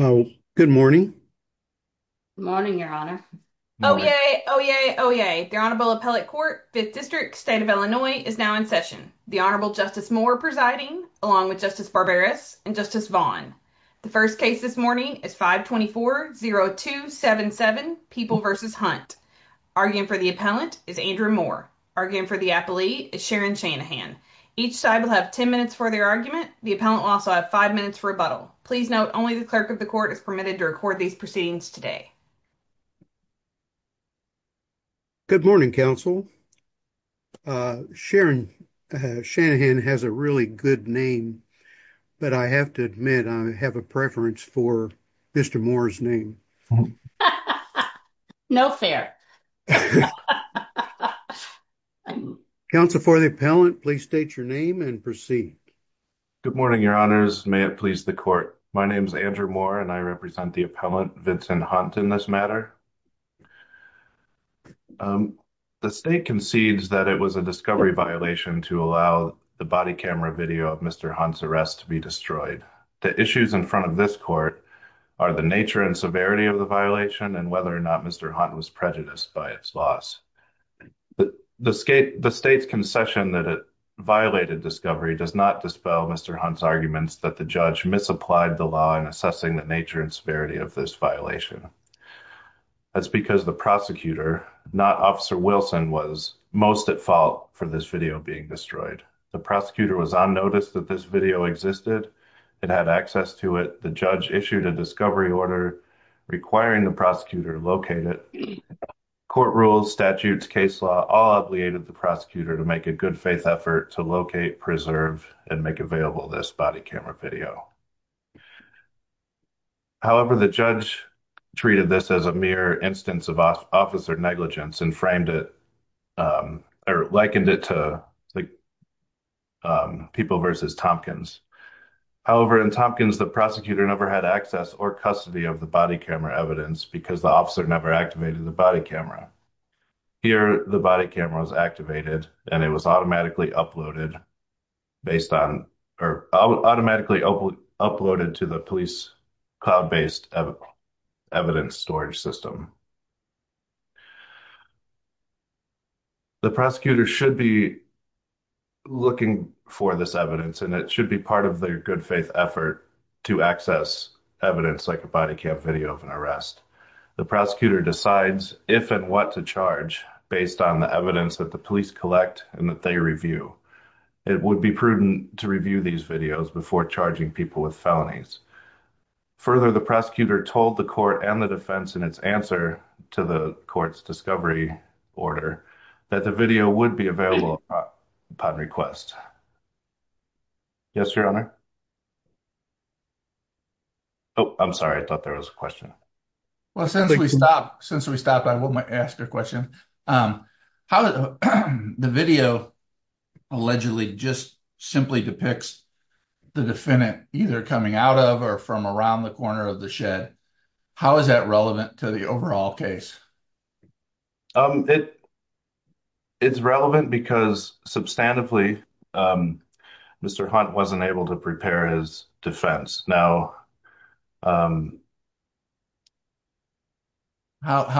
Oh, good morning, morning, your honor. Oh, yay. Oh, yay. Oh, yay. The Honorable Appellate Court, 5th District, State of Illinois, is now in session. The Honorable Justice Moore presiding along with Justice Barbaras and Justice Vaughn. The first case this morning is 524-0277, People v. Hunt. Arguing for the appellant is Andrew Moore. Arguing for the appellant, I believe, is Sharon Shanahan. Each side will have 10 minutes for their argument. The appellant will also have five minutes for rebuttal. Please note, only the clerk of the court is permitted to record these proceedings today. Judge Barbaras Good morning, counsel. Sharon Shanahan has a really good name, but I have to admit, I have a preference for Mr. Moore's name. Judge Barbaras No fair. Judge Barbaras Counsel for the appellant, please state your name and proceed. Andrew Moore Good morning, your honors. May it please the court. My name is Andrew Moore and I represent the appellant, Vincent Hunt, in this matter. The state concedes that it was a discovery violation to allow the body camera video of Mr. Hunt's arrest to be destroyed. The issues in front of this court are the nature and severity of the violation and whether or not Mr. Hunt was prejudiced by its loss. The state's concession that it violated discovery does not dispel Mr. Hunt's arguments that the judge misapplied the law in assessing the nature and severity of this violation. That's because the prosecutor, not Officer Wilson, was most at fault for this video being destroyed. The prosecutor was on notice that this video existed. It had access to it. The judge issued a discovery order requiring the prosecutor to locate it. Court rules, statutes, case law, all obligated the prosecutor to make a good faith effort to locate, preserve, and make available this body camera video. However, the judge treated this as a mere instance of officer negligence and framed it, or likened it to People vs. Tompkins. However, in Tompkins, the prosecutor never had access or custody of the body camera evidence because the officer never activated the body camera. Here, the body camera was activated and it was automatically uploaded based on, or automatically uploaded to the police cloud-based evidence storage system. The prosecutor should be looking for this evidence and it should be part of their good faith effort to access evidence like a body cam video of an arrest. The prosecutor decides if and what to charge based on the evidence that the police collect and that they review. It would be prudent to review these videos before charging people with felonies. Further, the prosecutor told the court and the defense in its answer to the court's discovery order the video would be available upon request. Yes, Your Honor? Oh, I'm sorry. I thought there was a question. Well, since we stopped, I will ask a question. The video allegedly just simply depicts the defendant either coming out of or from around the corner of the shed. How is that relevant to the overall case? It's relevant because, substantively, Mr. Hunt wasn't able to prepare his defense. Now, how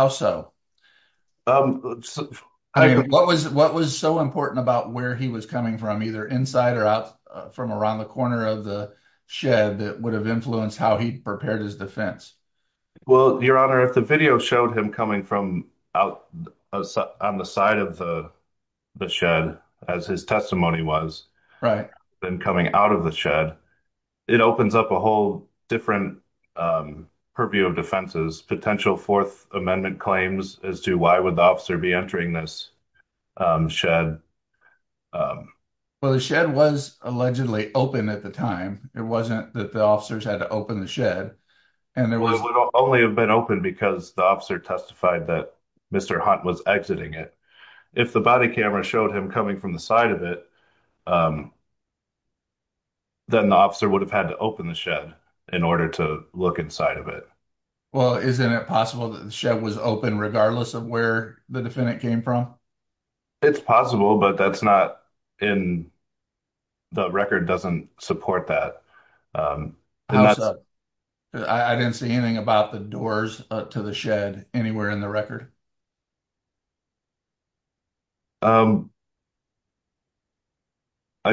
so? What was so important about where he was coming from, either inside or out from around the corner of the shed, that would have influenced how he prepared his defense? Well, Your Honor, if the video showed him coming from on the side of the shed, as his testimony was, then coming out of the shed, it opens up a whole different purview of defenses, potential Fourth Amendment claims as to why would the officer be entering this shed. Well, the shed was allegedly open at the time. It wasn't that the officers had to open the shed, and there was... It would only have been open because the officer testified that Mr. Hunt was exiting it. If the body camera showed him coming from the side of it, then the officer would have had to open the shed in order to look inside of it. Well, isn't it possible that the shed was open regardless of where the defendant came from? It's possible, but that's not in... The record doesn't support that. How so? I didn't see anything about the doors to the shed anywhere in the record. I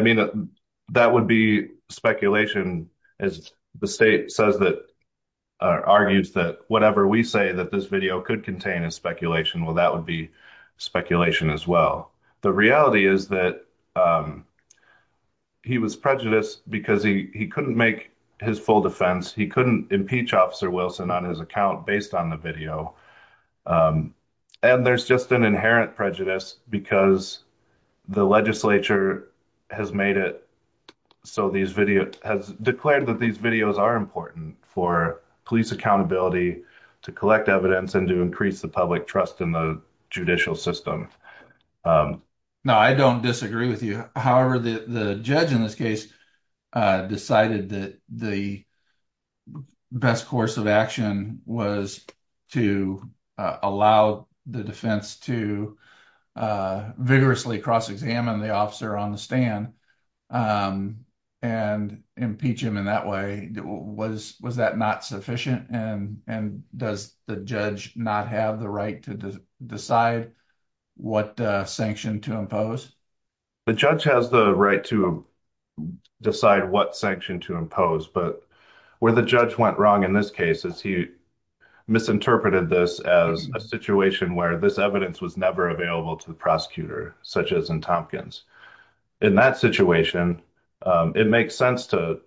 mean, that would be speculation, as the state says that... argues that whatever we say that this video could contain as speculation, well, that would be speculation as well. The reality is that he was prejudiced because he couldn't make his full defense. He couldn't impeach Officer Wilson on his account based on the video. And there's just an inherent prejudice because the legislature has made it... so these videos... has declared that these videos are important for police accountability, to collect evidence, and to increase the public trust in the judicial system. No, I don't disagree with you. However, the judge in this case decided that the best course of action was to allow the defense to vigorously cross-examine the officer on the stand and impeach him in that way. Was that not sufficient? And does the judge not have the right to decide what sanction to impose? The judge has the right to decide what sanction to impose, but where the judge went wrong in this case is he misinterpreted this as a situation where this evidence was never available to the prosecutor, such as in Tompkins. In that situation, it makes sense to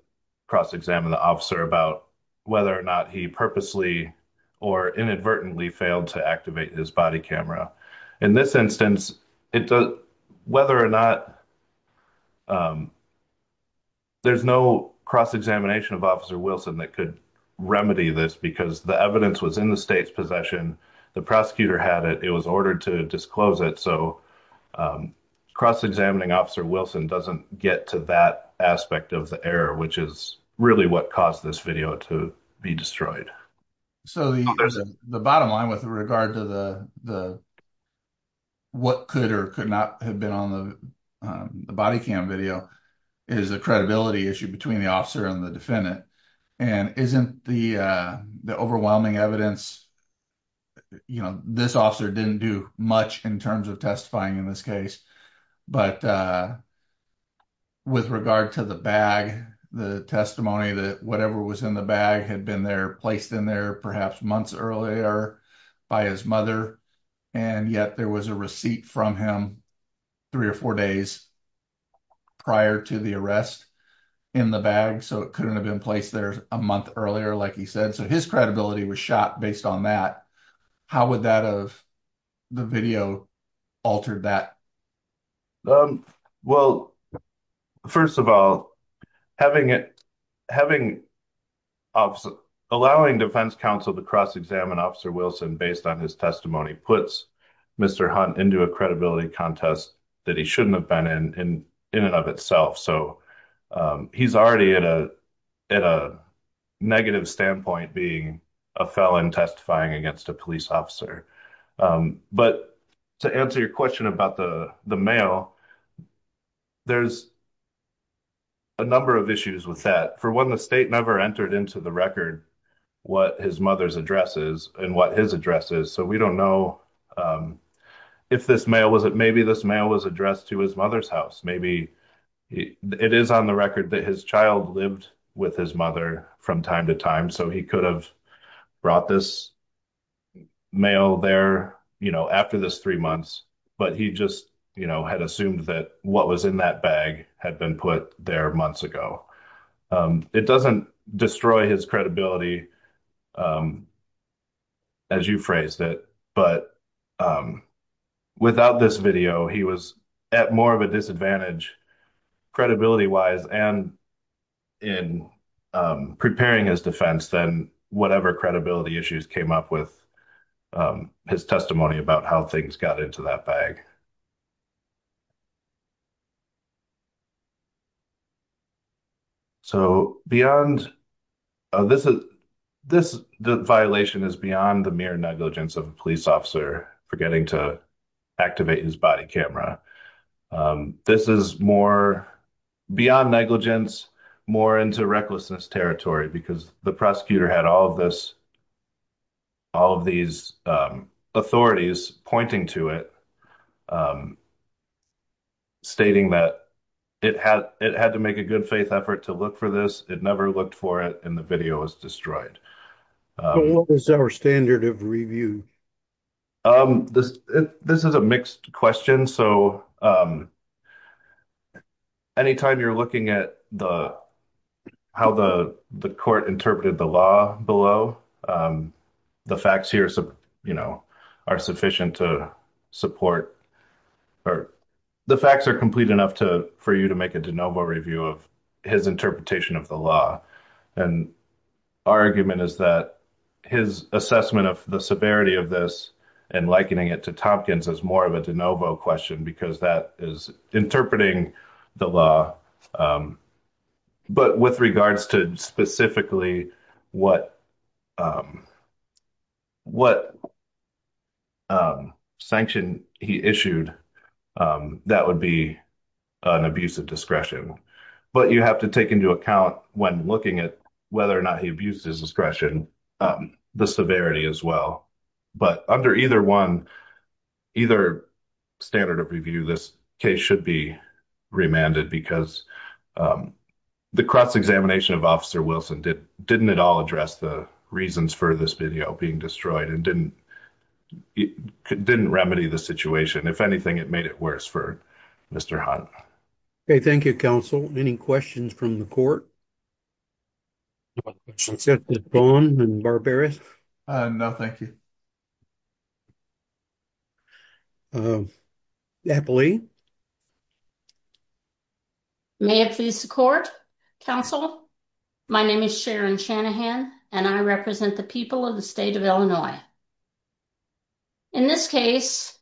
cross-examine the officer about whether or not he purposely or inadvertently failed to activate his body camera. In this instance, there's no cross-examination of Officer Wilson that could remedy this because the evidence was in the state's possession, the prosecutor had it, it was ordered to disclose it, so cross-examining Officer Wilson doesn't get to that aspect of the error, which is really what caused this video to be destroyed. So the bottom line with regard to what could or could not have been on the body cam video is a credibility issue between the officer and the defendant, and isn't the overwhelming evidence, you know, this officer didn't do much in terms of testifying in this case, but with regard to the bag, the testimony that whatever was in the bag had been there, placed in there perhaps months earlier by his mother, and yet there was a receipt from him three or four days prior to the arrest in the bag, so it couldn't have been placed there a month earlier like he said, so his credibility was shot based on that. How would that have, the video, altered that? Um, well, first of all, having it, having, allowing defense counsel to cross-examine Officer Wilson based on his testimony puts Mr. Hunt into a credibility contest that he shouldn't have been in, in and of itself, so he's already at a, at a negative standpoint being a felon testifying against a police officer, but to answer your question about the mail, there's a number of issues with that. For one, the state never entered into the record what his mother's address is and what his address is, so we don't know if this mail was, maybe this mail was addressed to his mother's house, maybe it is on the record that his child lived with his mother from time to time, so he could have brought this mail there, you know, after this three months, but he just, you know, had assumed that what was in that bag had been put there months ago. It doesn't destroy his credibility, um, as you phrased it, but, um, without this video, he was at more of a disadvantage credibility-wise and in preparing his defense than whatever credibility issues came up with his testimony about how things got into that bag. So beyond, this is, this, the violation is beyond the mere negligence of a police officer forgetting to activate his body camera. This is more, beyond negligence, more into recklessness territory, because the prosecutor had all of this, all of these authorities pointing to it, stating that it had, it had to make a good faith effort to look for this, it never looked for it, and the video was destroyed. What is our standard of review? Um, this, this is a mixed question, so, um, anytime you're looking at the, how the, the court interpreted the law below, um, the facts here, you know, are sufficient to support, or the facts are complete enough to, for you to make a de novo review of his interpretation of the law, and our argument is that his assessment of the severity of this and likening it to Tompkins is more of a de novo question, because that is interpreting the law, um, but with regards to specifically what, um, what, um, sanction he issued, um, that would be an abuse of discretion, but you have to take into account when looking at whether or not he abused his discretion, um, the severity as well, but under either one, either standard of review, this case should be remanded because, um, um, the cross-examination of officer Wilson did, didn't at all address the reasons for this video being destroyed and didn't, it didn't remedy the situation. If anything, it made it worse for Mr. Hunt. Okay, thank you, counsel. Any questions from the court? Bond and Barbaras? Uh, no, thank you. Uh, Eppley? May it please the court, counsel, my name is Sharon Shanahan, and I represent the people of the state of Illinois. In this case,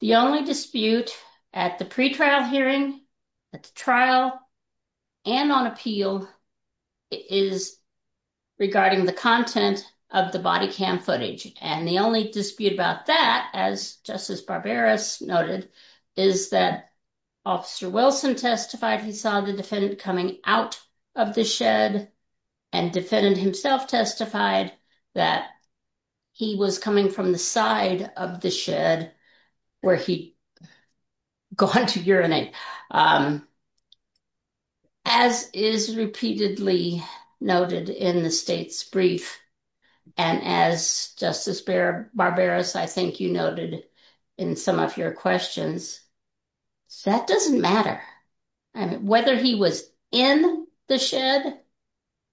the only dispute at the pretrial hearing, at the trial, and on appeal, is regarding the content of the body cam footage, and the only dispute about that, as Justice Barbaras noted, is that officer Wilson testified he saw the defendant coming out of the shed, and defendant himself testified that he was coming from the side of the shed where he gone to urinate. Um, as is repeatedly noted in the state's brief, and as Justice Barbaras, I think you noted in some of your questions, that doesn't matter. I mean, whether he was in the shed,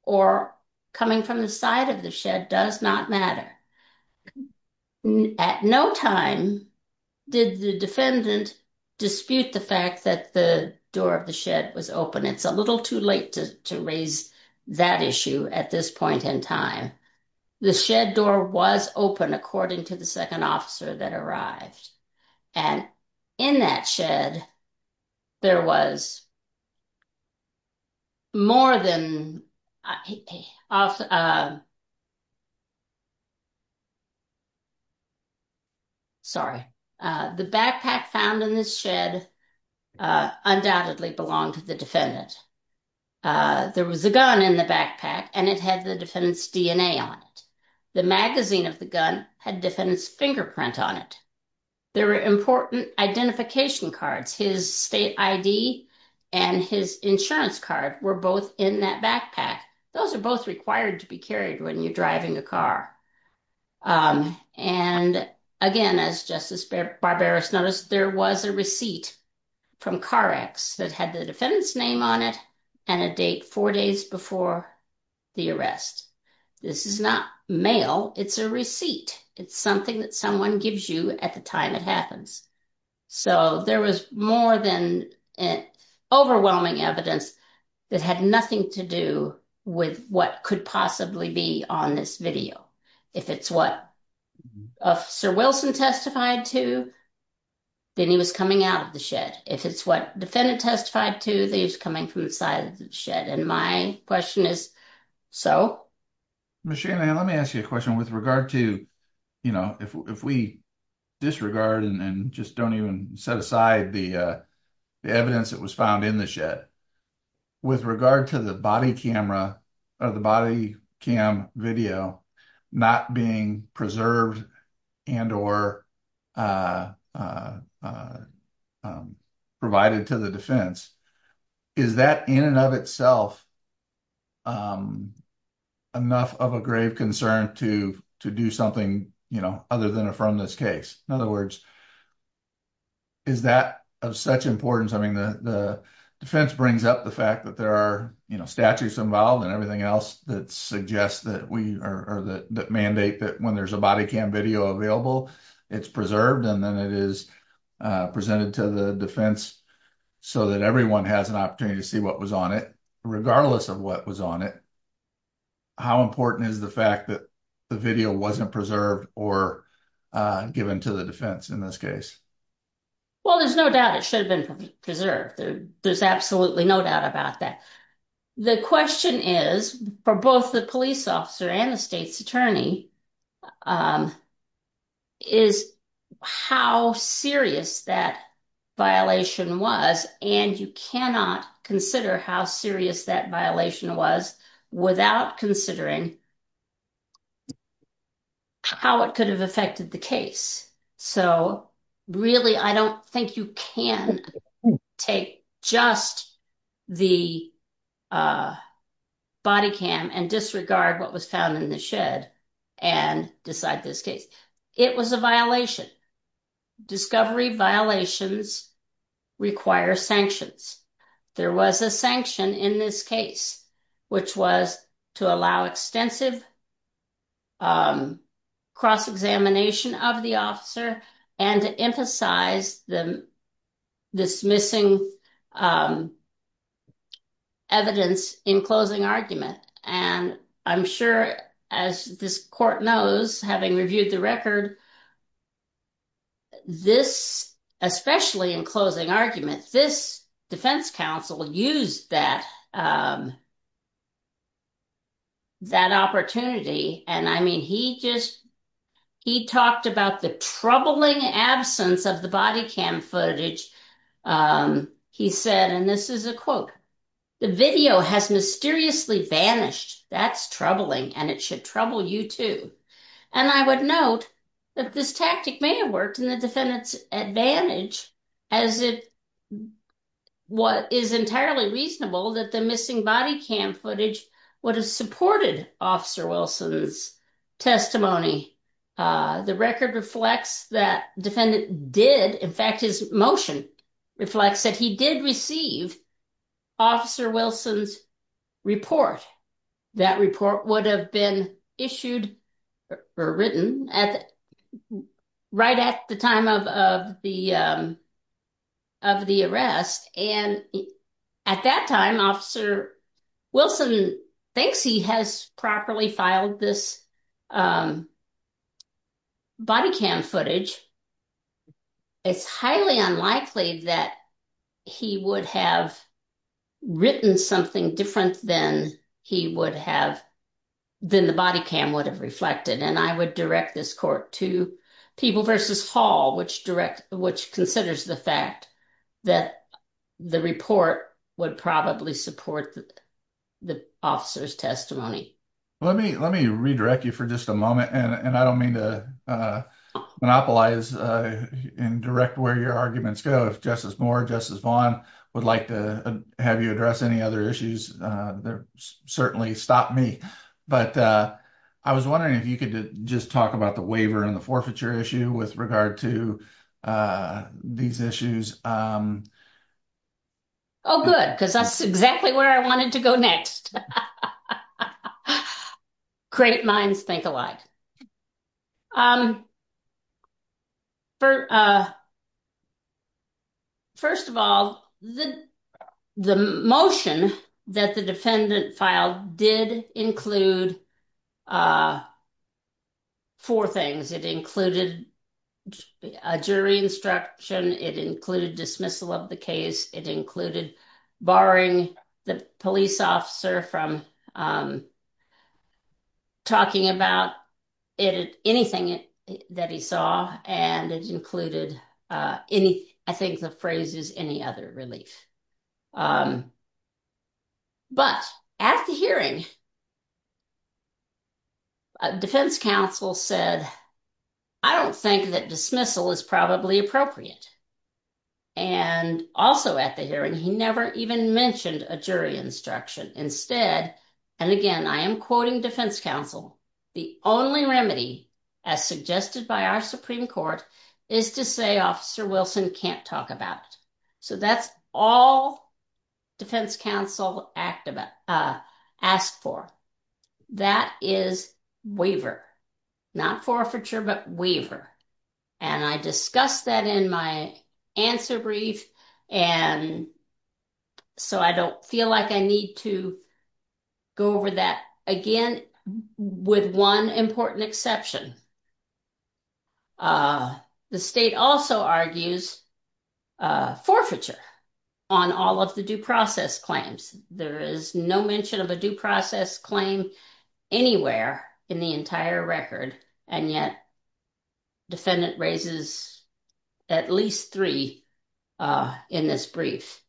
or coming from the side of the shed, does not matter. At no time did the defendant dispute the fact that the door of the shed was open. It's a little too late to raise that issue at this point in time. The shed door was open, according to the officer that arrived, and in that shed, there was more than... Sorry. The backpack found in this shed undoubtedly belonged to the defendant. There was a gun in the backpack, and it had the defendant's DNA on it. The magazine of the gun had defendant's fingerprint on it. There were important identification cards. His state ID and his insurance card were both in that backpack. Those are both required to be carried when you're driving a car. Um, and again, as Justice Barbaras noticed, there was a receipt from Car X that had the defendant's name on it, and a date four days before the arrest. This is not mail, it's a receipt. It's something that someone gives you at the time it happens. So there was more than overwhelming evidence that had nothing to do with what could possibly be on this video. If it's what Officer Wilson testified to, then he was coming out of the shed. If it's what the defendant testified to, then he was coming from the side of the shed. My question is, so? Ms. Shanahan, let me ask you a question. With regard to, you know, if we disregard and just don't even set aside the evidence that was found in the shed, with regard to the body camera or the body cam video not being preserved and or uh, provided to the defense, is that in and of itself enough of a grave concern to do something, you know, other than affirm this case? In other words, is that of such importance? I mean, the defense brings up the fact that there are, you know, statutes involved and everything else that suggest that we, or that mandate that when there's a body cam video available, it's preserved and then it is presented to the defense so that everyone has an opportunity to see what was on it, regardless of what was on it. How important is the fact that the video wasn't preserved or given to the defense in this case? Well, there's no doubt it should have been preserved. There's absolutely no doubt about that. The question is, for both the police officer and the state's attorney, is how serious that violation was. And you cannot consider how serious that violation was without considering how it could have affected the case. So really, I don't think you can take just the body cam and disregard what was found in the shed and decide this case. It was a violation. Discovery violations require sanctions. There was a sanction in this case, which was to allow extensive cross-examination of the officer and to emphasize the dismissing evidence in closing argument. And I'm sure as this court knows, having reviewed the record, this, especially in closing argument, this defense counsel used that opportunity. And I mean, he just he talked about the troubling absence of the body cam footage. He said, and this is a quote, the video has mysteriously vanished. That's troubling and it should trouble you too. And I would note that this tactic may have worked in the defendant's advantage as it what is entirely reasonable that the missing body cam footage would have supported Officer Wilson's testimony. The record reflects that defendant did, in fact, his motion reflects that he did receive Officer Wilson's report. That report would have been issued or written right at the time of the arrest. And at that time, Officer Wilson thinks he has properly filed this body cam footage. It's highly unlikely that he would have written something different than he would have, than the body cam would have reflected. And I would direct this court to People v. Hall, which direct, which considers the fact that the report would probably support the officer's testimony. Let me redirect you for just a moment. And I don't mean to monopolize and direct where your arguments go. If Justice Moore, Justice Vaughn would like to have you address any other issues, certainly stop me. But I was wondering if you could just talk about the waiver and the forfeiture issue with regard to these issues. Oh, good, because that's exactly where I wanted to go next. Great minds think alike. First of all, the motion that the defendant filed did include four things. It included a jury instruction. It included dismissal of the case. It included barring the police officer from talking about anything that he saw. And it included, any, I think the phrase is any other relief. But at the hearing, defense counsel said, I don't think that dismissal is probably appropriate. And also at the hearing, he never even mentioned a jury instruction instead. And again, I am defense counsel. The only remedy as suggested by our Supreme Court is to say Officer Wilson can't talk about it. So that's all defense counsel asked for. That is waiver, not forfeiture, but waiver. And I discussed that in my answer brief. And so I don't feel like I need to go over that again, with one important exception. The state also argues forfeiture on all of the due process claims. There is no mention of a due process claim anywhere in the entire record. And yet defendant raises at least three in this brief.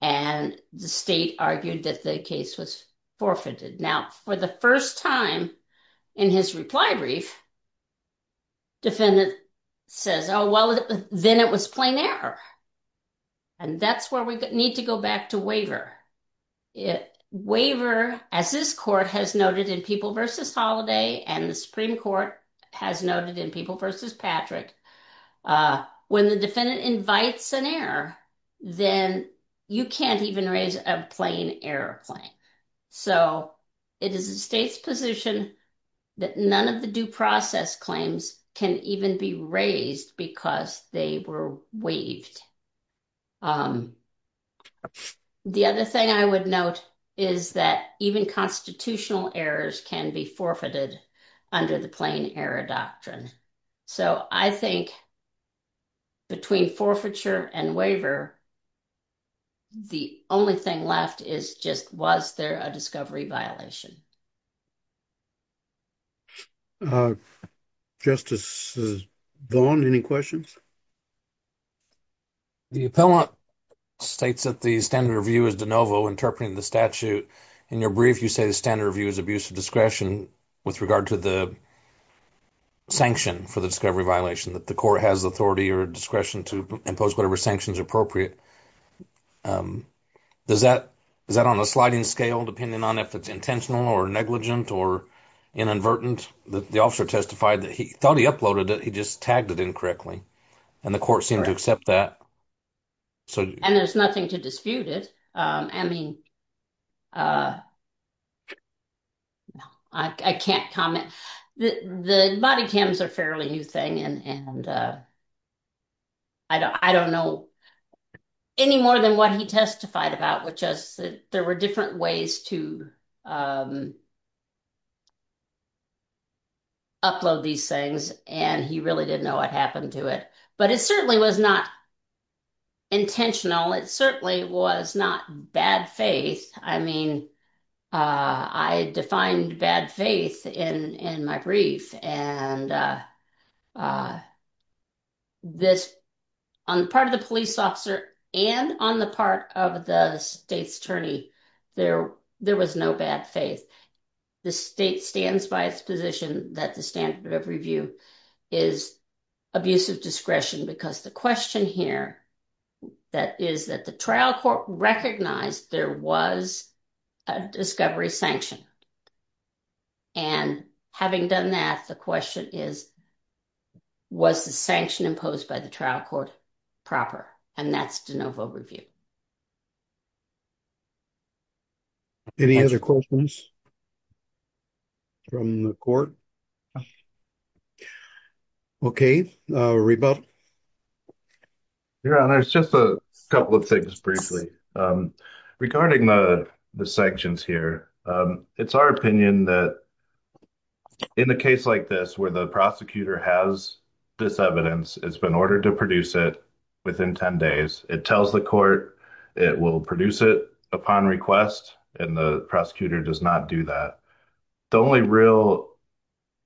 And the state argued that the case was forfeited. Now, for the first time in his reply brief, defendant says, oh, well, then it was plain error. And that's where we need to go back to waiver. Waiver, as this court has noted in People v. Holiday, and the Supreme Court has noted in People v. Patrick, when the defendant invites an error, then you can't even raise a plain error claim. So it is the state's position that none of the due process claims can even be raised because they were waived. The other thing I would note is that even constitutional errors can be forfeited under the plain error doctrine. So I think between forfeiture and waiver, the only thing left is just was there a discovery violation? Justice Vaughn, any questions? The appellant states that the standard review is de novo interpreting the statute. In your brief, you say the standard review is abuse of discretion with regard to the sanction for the discovery violation, that the court has authority or discretion to impose whatever sanctions are appropriate. Is that on a sliding scale depending on if it's intentional or negligent or inadvertent? The officer testified that he thought he uploaded it, he just tagged it incorrectly. And the court seemed to accept that. So and there's nothing to dispute it. I mean, I can't comment. The body cams are fairly new thing. And I don't know any more than what he testified about, which is that there were different ways to upload these things. And he really didn't know what happened to it. But it certainly was not intentional. It certainly was not bad faith. I mean, I defined bad faith in my brief. And this on the part of the police officer, and on the part of the state's attorney, there, there was no bad faith. The state stands by its position that the standard of review is abuse of discretion because the question here that is that the trial court recognized there was a discovery sanction. And having done that, the question is, was the sanction imposed by the trial court proper? And that's de novo review. Any other questions from the court? Okay, Reba. Your Honor, it's just a couple of things briefly. Regarding the the sanctions here. It's our opinion that in a case like this, where the prosecutor has this evidence, it's been ordered to produce it within 10 days, it tells the court, it will produce it upon request. And the prosecutor does not do that. The only real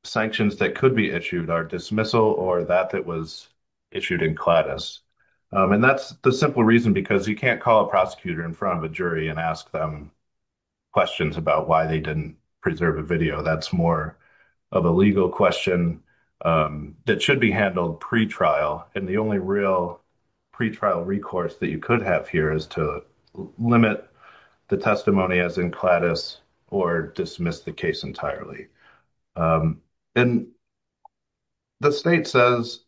sanctions that could be issued are dismissal or that that was issued in clatus. And that's the simple reason because you can't call a prosecutor in front of a jury and ask them questions about why they didn't preserve a video. That's more of a legal question that should be handled pre-trial. And the only real pre-trial recourse that you could have here is to limit the testimony as in clatus or dismiss the case entirely. And the state says,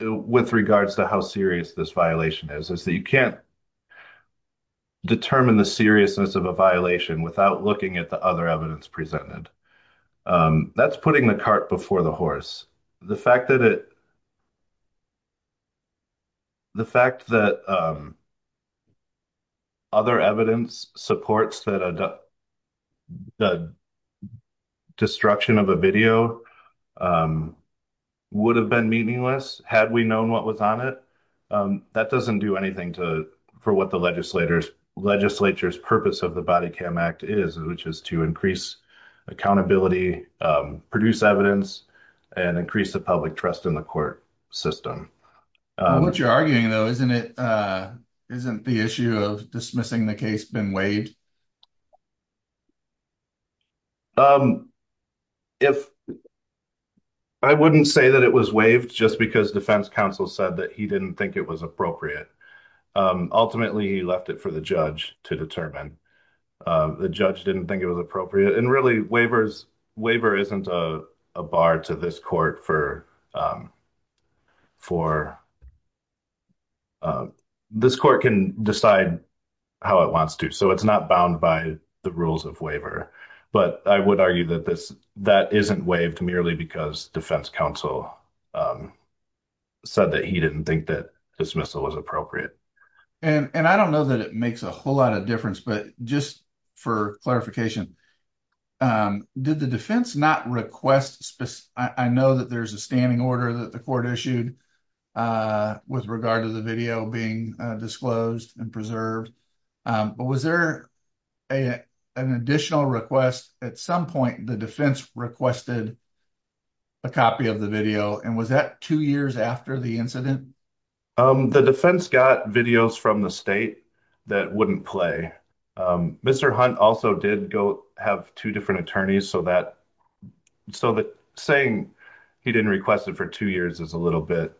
with regards to how serious this violation is, is that you can't determine the seriousness of a violation without looking at the other evidence presented. That's putting the cart before the horse. The fact that other evidence supports that the destruction of a video would have been meaningless had we known what was on it, that doesn't do anything for what the legislature's purpose of the Body Cam Act is, which is to increase accountability, produce evidence, and increase the public trust in the court system. What you're arguing though, isn't the issue of dismissing the case been waived? If I wouldn't say that it was waived just because defense counsel said that he didn't think it was appropriate. Ultimately, he left it for the judge to determine. The judge didn't think it was appropriate. And really, waiver isn't a bar to this court. This court can decide how it wants to. So, it's not bound by the rules of waiver. But I would argue that that isn't waived merely because defense counsel said that he didn't think that dismissal was appropriate. And I don't know that it makes a whole lot of difference. But just for clarification, did the defense not request, I know that there's a standing order that the court issued with regard to the video being disclosed and preserved. But was there an additional request at some point the defense requested a copy of the video? And was that two years after the incident? The defense got videos from the state that wouldn't play. Mr. Hunt also did have two different attorneys. So, saying he didn't request it for two years is a little bit,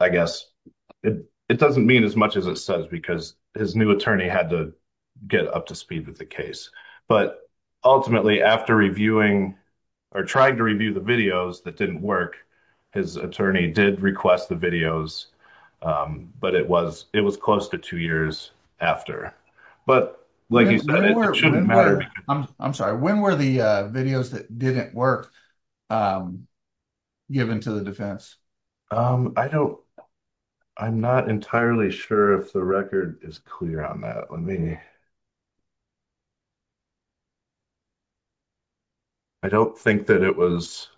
I guess, it doesn't mean as much as it says because his new attorney had to get up to speed with the case. But ultimately, after reviewing or trying to review the videos that didn't work, his attorney did request the videos. But it was close to two years after. I'm sorry, when were the videos that didn't work given to the defense? I'm not entirely sure if the record is clear on that. Let me see. I don't think that it was,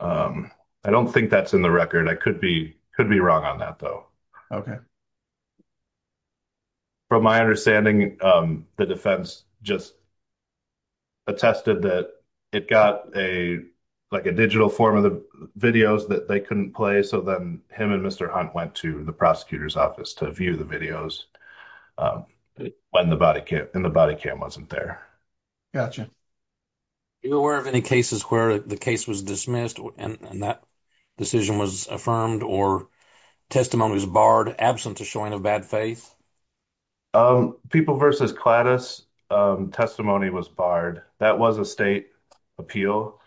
I don't think that's in the record. I could be wrong on that, though. Okay. From my understanding, the defense just attested that it got a, like a digital form of the videos that they couldn't play. So then him and Mr. Hunt went to the prosecutor's office to view the videos when the body cam wasn't there. Gotcha. Are you aware of any cases where the case was dismissed and that decision was affirmed or testimony was barred absent of showing of bad faith? People v. Clatus, testimony was barred. That was a state appeal.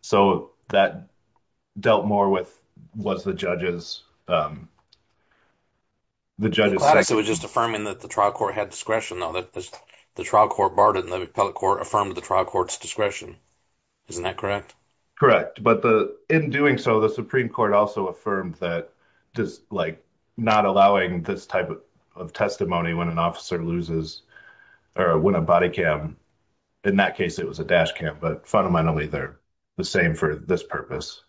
So that dealt more with, was the judge's, um, the judge's second. V. Clatus, it was just affirming that the trial court had discretion, though, that the trial court barred it and the appellate court affirmed the trial court's discretion. Isn't that correct? Correct. But the, in doing so, the Supreme Court also affirmed that just, like, not allowing this type of testimony when an officer loses, or when a body cam, in that case it was a dash cam, but fundamentally they're the same for this purpose.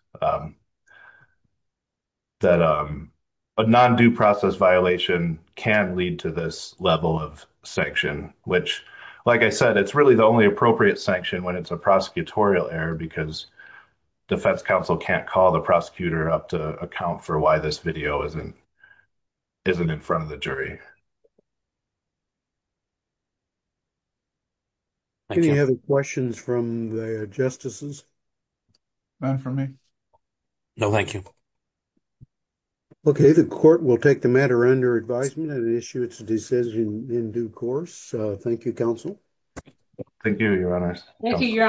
That a non-due process violation can lead to this level of sanction, which, like I said, it's really the only appropriate sanction when it's a prosecutorial error because defense counsel can't call the prosecutor up to account for why this video isn't isn't in front of the jury. Any other questions from the justices? None for me. No, thank you. Okay, the court will take the matter under advisement and issue its decision in due course. Thank you, counsel. Thank you, your honor. Thank you, your honor.